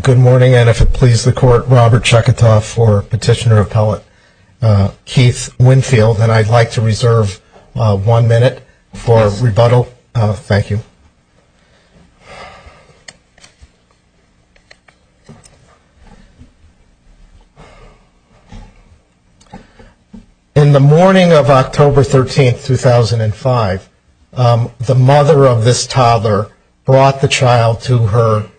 Good morning, and if it pleases the Court, Robert Chekatov for Petitioner-Appellate Keith Winfield, and I'd like to reserve one minute for rebuttal. Thank you. In the morning of October 13, 2005, the mother of this toddler brought the child to her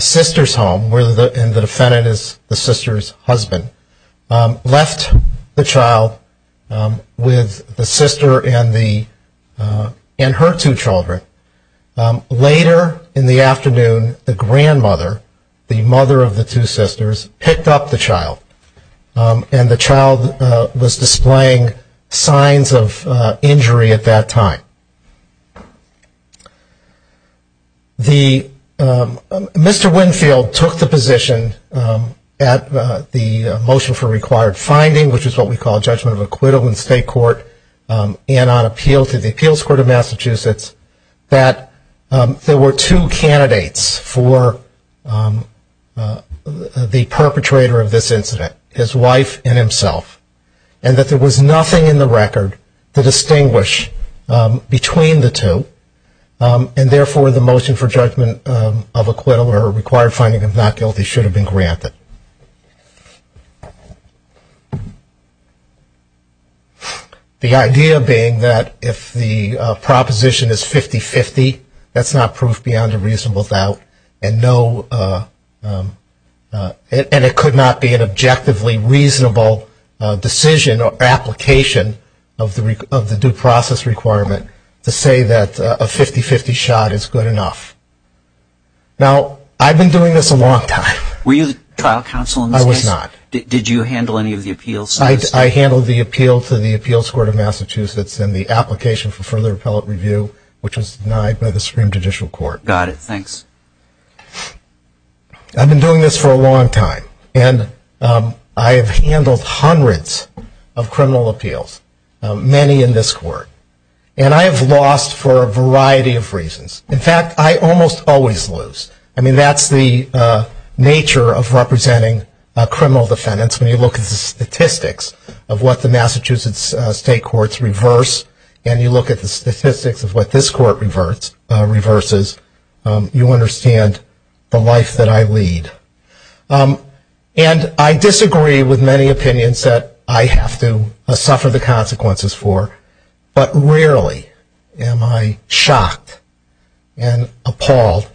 sister's home, and the defendant is the sister's husband, left the child with the sister and her two children. Later in the afternoon, the grandmother, the mother of the two sisters, picked up the child, and the child was displaying signs of injury at that time. Mr. Winfield took the position at the motion for required finding, which is what we call judgment of acquittal in state court, and on appeal to the Appeals Court of Massachusetts, that there were two candidates for the perpetrator of this incident, his wife and himself, and that there was nothing in the record to distinguish between the two, and therefore the motion for judgment of acquittal or required finding of not guilty should have been granted. The idea being that if the proposition is 50-50, that's not proof beyond a reasonable doubt, and it could not be an objectively reasonable decision or application of the due process requirement to say that a 50-50 shot is good enough. Now, I've been doing this a long time. Were you the trial counsel in this case? I was not. Did you handle any of the appeals? I handled the appeal to the Appeals Court of Massachusetts and the application for further appellate review, which was denied by the Supreme Judicial Court. Got it. Thanks. I've been doing this for a long time, and I have handled hundreds of criminal appeals, many in this court. And I have lost for a variety of reasons. In fact, I almost always lose. I mean, that's the nature of representing criminal defendants. When you look at the statistics of what the Massachusetts state courts reverse and you look at the statistics of what this court reverses, you understand the life that I lead. And I disagree with many opinions that I have to suffer the consequences for, but rarely am I shocked and appalled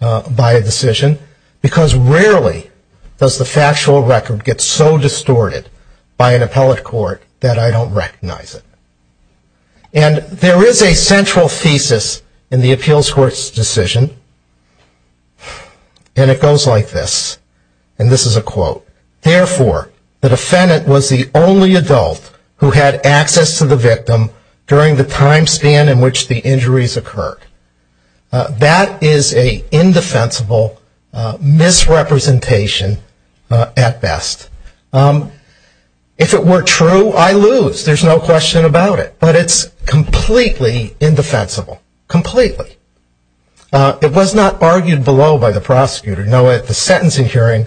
by a decision, because rarely does the factual record get so distorted by an appellate court that I don't recognize it. And there is a central thesis in the appeals court's decision, and it goes like this, and this is a quote. Therefore, the defendant was the only adult who had access to the victim during the time span in which the injuries occurred. That is an indefensible misrepresentation at best. If it were true, I lose. There's no question about it. But it's completely indefensible, completely. It was not argued below by the prosecutor. No, at the sentencing hearing,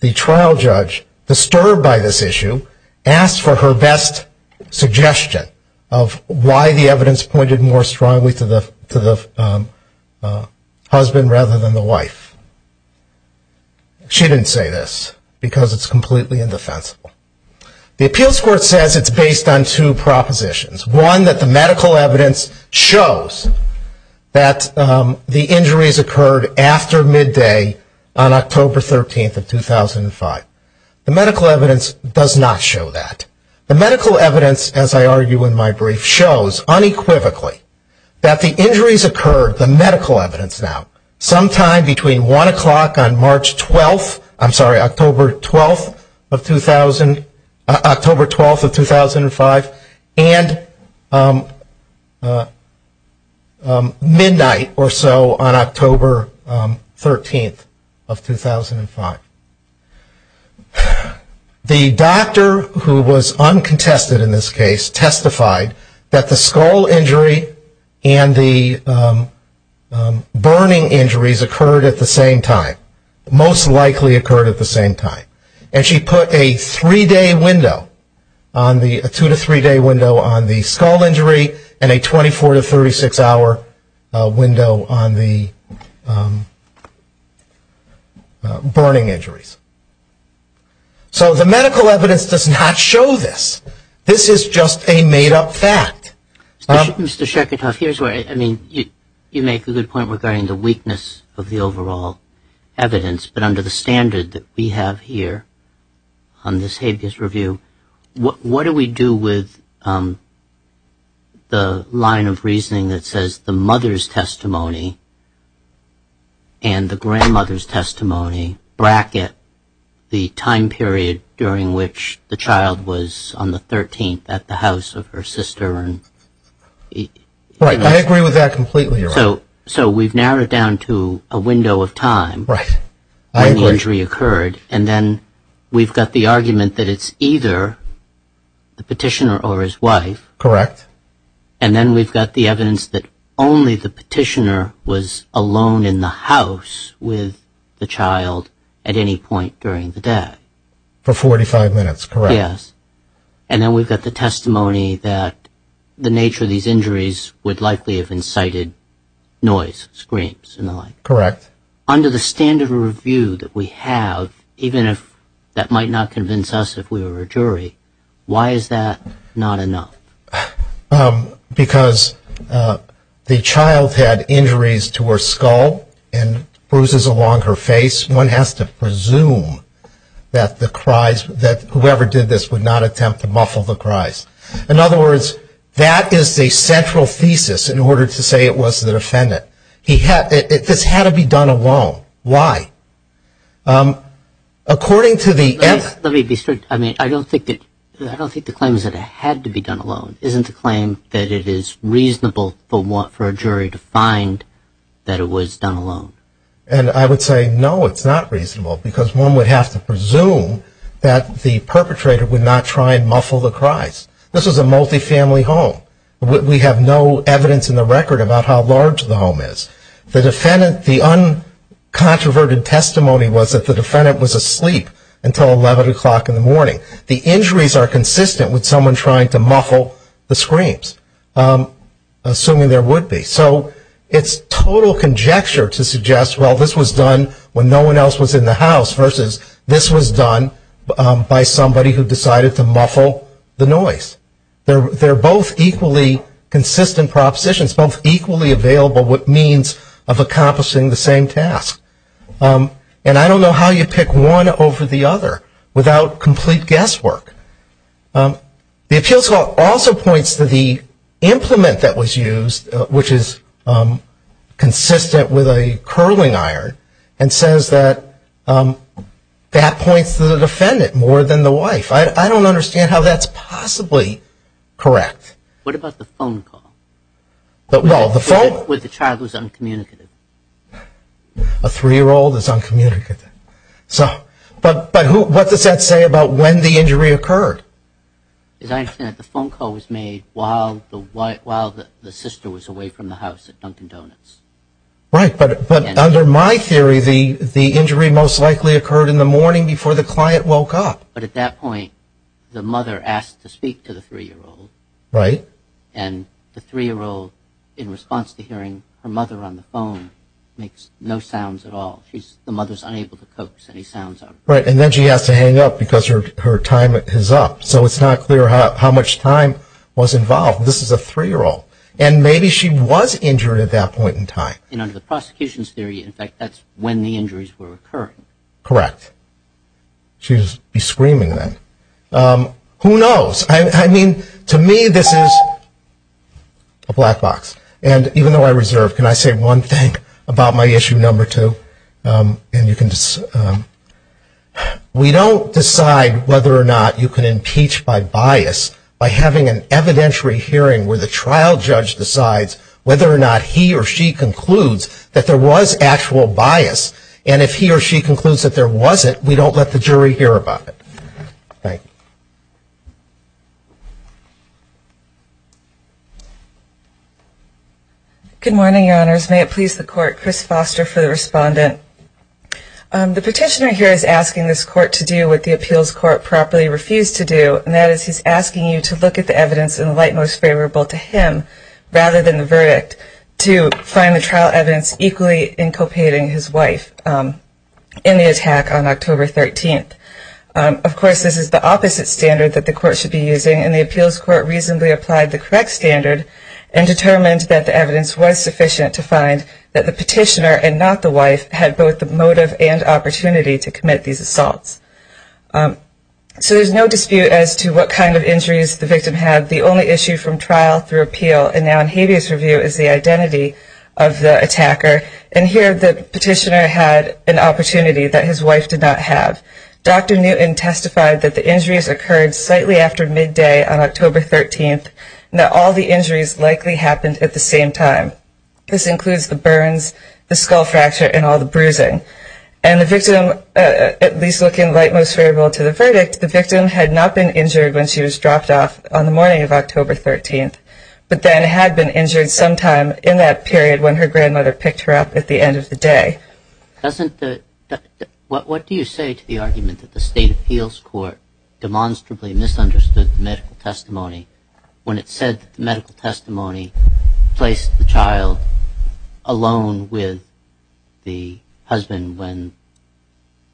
the trial judge, disturbed by this issue, asked for her best suggestion of why the evidence pointed more strongly to the husband rather than the wife. She didn't say this, because it's completely indefensible. The appeals court says it's based on two propositions. One, that the medical evidence shows that the injuries occurred after midday on October 13th of 2005. The medical evidence does not show that. The medical evidence, as I argue in my brief, shows unequivocally that the injuries occurred, the medical evidence now, sometime between 1 o'clock on March 12th, I'm sorry, October 12th of 2005, and midnight or so on October 13th of 2005. The doctor who was uncontested in this case testified that the skull injury and the burning injuries occurred at the same time, most likely occurred at the same time. And she put a three-day window, a two- to three-day window on the skull injury and a 24- to 36-hour window on the burning injuries. So the medical evidence does not show this. This is just a made-up fact. Mr. Sherkatov, here's where, I mean, you make a good point regarding the weakness of the overall evidence, but under the standard that we have here on this habeas review, what do we do with the line of reasoning that says the mother's testimony and the grandmother's testimony bracket the time period during which the child was on the 13th at the house of her sister? Right. I agree with that completely. So we've narrowed it down to a window of time when the injury occurred, and then we've got the argument that it's either the petitioner or his wife. Correct. And then we've got the evidence that only the petitioner was alone in the house with the child at any point during the death. For 45 minutes, correct. Yes. And then we've got the testimony that the nature of these injuries would likely have incited noise, screams and the like. Correct. Under the standard review that we have, even if that might not convince us if we were a jury, why is that not enough? Because the child had injuries to her skull and bruises along her face. One has to presume that whoever did this would not attempt to muffle the cries. In other words, that is the central thesis in order to say it was the defendant. This had to be done alone. Why? Let me be straight. I mean, I don't think the claim is that it had to be done alone. It isn't a claim that it is reasonable for a jury to find that it was done alone. And I would say no, it's not reasonable, because one would have to presume that the perpetrator would not try and muffle the cries. This was a multifamily home. We have no evidence in the record about how large the home is. The uncontroverted testimony was that the defendant was asleep until 11 o'clock in the morning. The injuries are consistent with someone trying to muffle the screams, assuming there would be. So it's total conjecture to suggest, well, this was done when no one else was in the house, versus this was done by somebody who decided to muffle the noise. They're both equally consistent propositions, both equally available with means of accomplishing the same task. And I don't know how you pick one over the other without complete guesswork. The appeals court also points to the implement that was used, which is consistent with a curling iron, and says that that points to the defendant more than the wife. I don't understand how that's possibly correct. What about the phone call? Well, the phone. Where the child was uncommunicative. A three-year-old is uncommunicative. But what does that say about when the injury occurred? As I understand it, the phone call was made while the sister was away from the house at Dunkin' Donuts. Right, but under my theory, the injury most likely occurred in the morning before the client woke up. But at that point, the mother asked to speak to the three-year-old. Right. And the three-year-old, in response to hearing her mother on the phone, makes no sounds at all. The mother's unable to coax any sounds out. Right, and then she has to hang up because her time is up. So it's not clear how much time was involved. This is a three-year-old, and maybe she was injured at that point in time. And under the prosecution's theory, in fact, that's when the injuries were occurring. Correct. She'd be screaming then. Who knows? I mean, to me, this is a black box. And even though I reserve, can I say one thing about my issue number two? And you can decide. We don't decide whether or not you can impeach by bias by having an evidentiary hearing where the trial judge decides whether or not he or she concludes that there was actual bias. And if he or she concludes that there wasn't, we don't let the jury hear about it. Thank you. Good morning, Your Honors. May it please the court, Chris Foster for the respondent. The petitioner here is asking this court to do what the appeals court properly refused to do, and that is he's asking you to look at the evidence in the light most favorable to him rather than the verdict to find the trial evidence equally inculpating his wife in the attack on October 13th. Of course, this is the opposite standard that the court should be using, and the appeals court reasonably applied the correct standard and determined that the evidence was sufficient to find that the petitioner and not the wife had both the motive and opportunity to commit these assaults. So there's no dispute as to what kind of injuries the victim had. The only issue from trial through appeal and now in habeas review is the identity of the attacker, and here the petitioner had an opportunity that his wife did not have. Dr. Newton testified that the injuries occurred slightly after midday on October 13th, and that all the injuries likely happened at the same time. This includes the burns, the skull fracture, and all the bruising. And the victim, at least looking light most favorable to the verdict, the victim had not been injured when she was dropped off on the morning of October 13th, but then had been injured sometime in that period when her grandmother picked her up at the end of the day. What do you say to the argument that the state appeals court demonstrably misunderstood the medical testimony when it said that the medical testimony placed the child alone with the husband when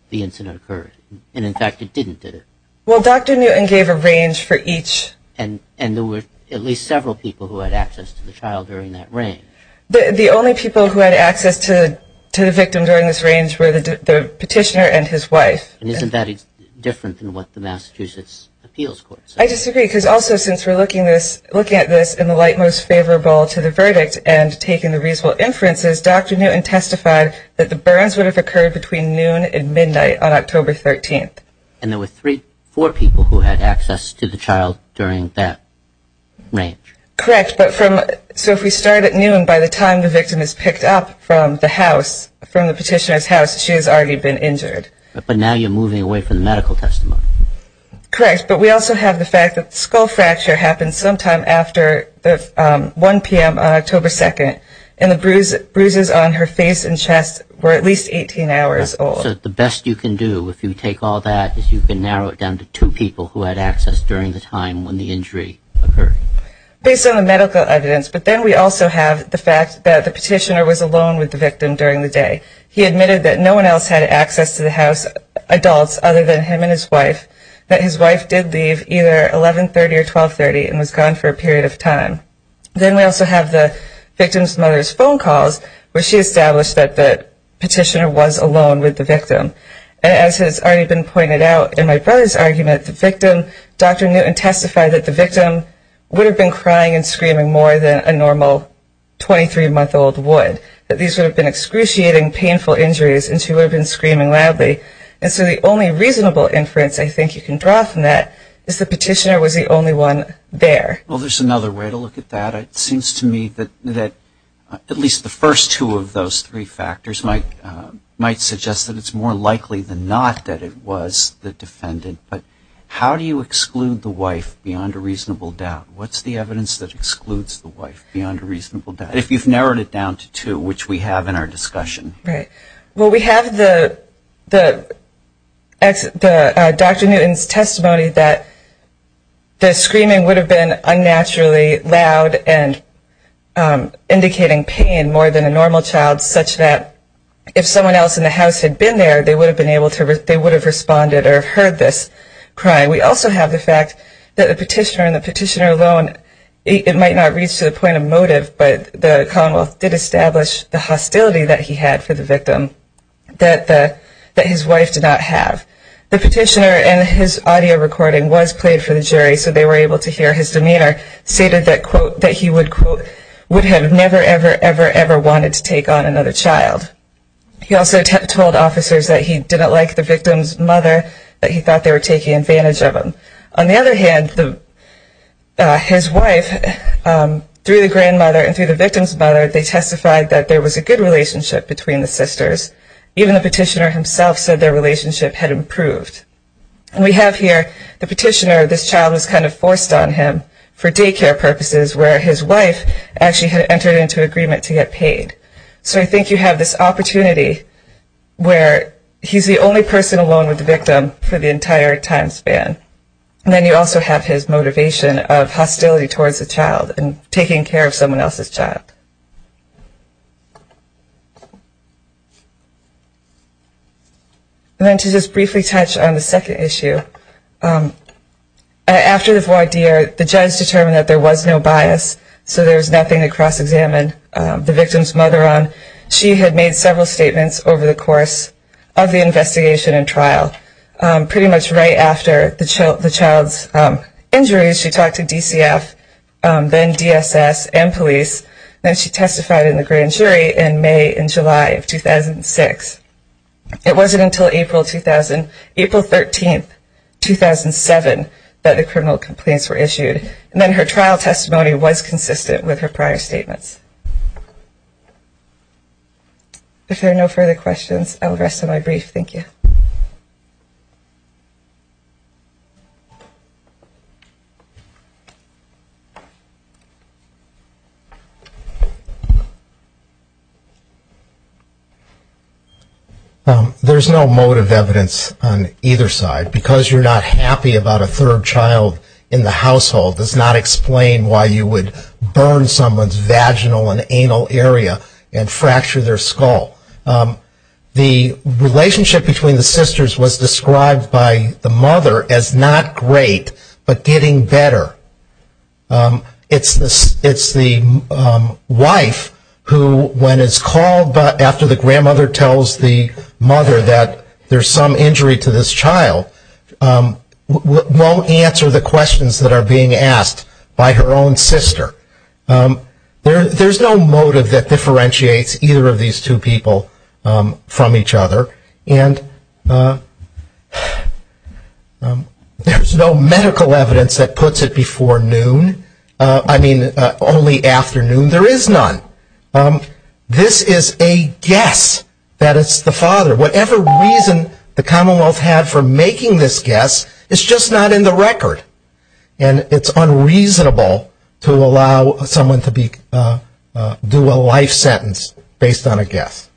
the incident occurred? And in fact, it didn't, did it? Well, Dr. Newton gave a range for each. And there were at least several people who had access to the child during that range. The only people who had access to the victim during this range were the petitioner and his wife. And isn't that different than what the Massachusetts appeals court said? I disagree, because also since we're looking at this in the light most favorable to the verdict and taking the reasonable inferences, Dr. Newton testified that the burns would have occurred between noon and midnight on October 13th. And there were four people who had access to the child during that range. Correct. So if we start at noon, by the time the victim is picked up from the petitioner's house, she has already been injured. But now you're moving away from the medical testimony. Correct. But we also have the fact that the skull fracture happened sometime after 1 p.m. on October 2nd, and the bruises on her face and chest were at least 18 hours old. So the best you can do, if you take all that, is you can narrow it down to two people who had access during the time when the injury occurred. Based on the medical evidence. But then we also have the fact that the petitioner was alone with the victim during the day. He admitted that no one else had access to the house, adults other than him and his wife, that his wife did leave either 11.30 or 12.30 and was gone for a period of time. Then we also have the victim's mother's phone calls, where she established that the petitioner was alone with the victim. And as has already been pointed out in my brother's argument, the victim, Dr. Newton, testified that the victim would have been crying and screaming more than a normal 23-month-old would, that these would have been excruciating, painful injuries, and she would have been screaming loudly. And so the only reasonable inference I think you can draw from that is the petitioner was the only one there. Well, there's another way to look at that. It seems to me that at least the first two of those three factors might suggest that it's more likely than not that it was the defendant. But how do you exclude the wife beyond a reasonable doubt? What's the evidence that excludes the wife beyond a reasonable doubt, if you've narrowed it down to two, which we have in our discussion? Well, we have Dr. Newton's testimony that the screaming would have been unnaturally loud and indicating pain more than a normal child, such that if someone else in the house had been there, they would have responded or heard this crying. We also have the fact that the petitioner and the petitioner alone, it might not reach the point of motive, but the Commonwealth did establish the hostility that he had for the victim that his wife did not have. The petitioner, and his audio recording was played for the jury so they were able to hear his demeanor, stated that, quote, that he would, quote, would have never, ever, ever, ever wanted to take on another child. He also told officers that he didn't like the victim's mother, that he thought they were taking advantage of him. On the other hand, his wife, through the grandmother and through the victim's mother, they testified that there was a good relationship between the sisters. Even the petitioner himself said their relationship had improved. And we have here the petitioner, this child was kind of forced on him for daycare purposes, where his wife actually had entered into agreement to get paid. So I think you have this opportunity where he's the only person alone with the victim for the entire time span. And then you also have his motivation of hostility towards the child and taking care of someone else's child. And then to just briefly touch on the second issue, after the voir dire, the judge determined that there was no bias, so there was nothing to cross-examine the victim's mother on, she had made several statements over the course of the investigation and trial. Pretty much right after the child's injuries, she talked to DCF, then DSS, and police. Then she testified in the grand jury in May and July of 2006. It wasn't until April 13, 2007, that the criminal complaints were issued. And then her trial testimony was consistent with her prior statements. If there are no further questions, I will rest on my brief. Thank you. There's no motive evidence on either side. Because you're not happy about a third child in the household does not explain why you would burn someone's vaginal and anal area and fracture their skull. The relationship between the sisters was described by the mother as not great, but getting better. It's the wife who, when it's called after the grandmother tells the mother that there's some injury to this child, won't answer the questions that are being asked by her own sister. There's no motive that differentiates either of these two people from each other. And there's no medical evidence that puts it before noon. I mean, only after noon. There is none. This is a guess that it's the father. Whatever reason the Commonwealth had for making this guess, it's just not in the record. And it's unreasonable to allow someone to do a life sentence based on a guess.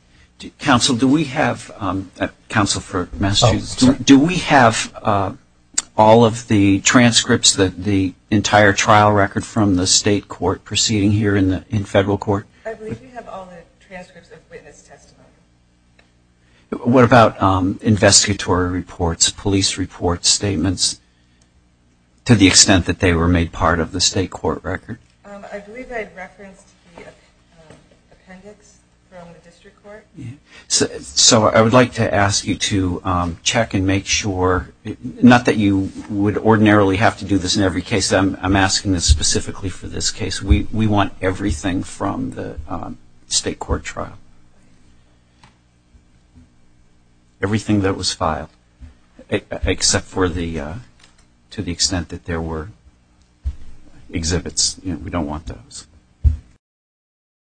Counsel, do we have all of the transcripts, the entire trial record from the state court proceeding here in federal court? I believe we have all the transcripts of witness testimony. What about investigatory reports, police reports, statements, to the extent that they were made part of the state court record? I believe I referenced the appendix from the district court. So I would like to ask you to check and make sure, not that you would ordinarily have to do this in every case. I'm asking this specifically for this case. We want everything from the state court trial. Everything that was filed, except to the extent that there were exhibits. We don't want those.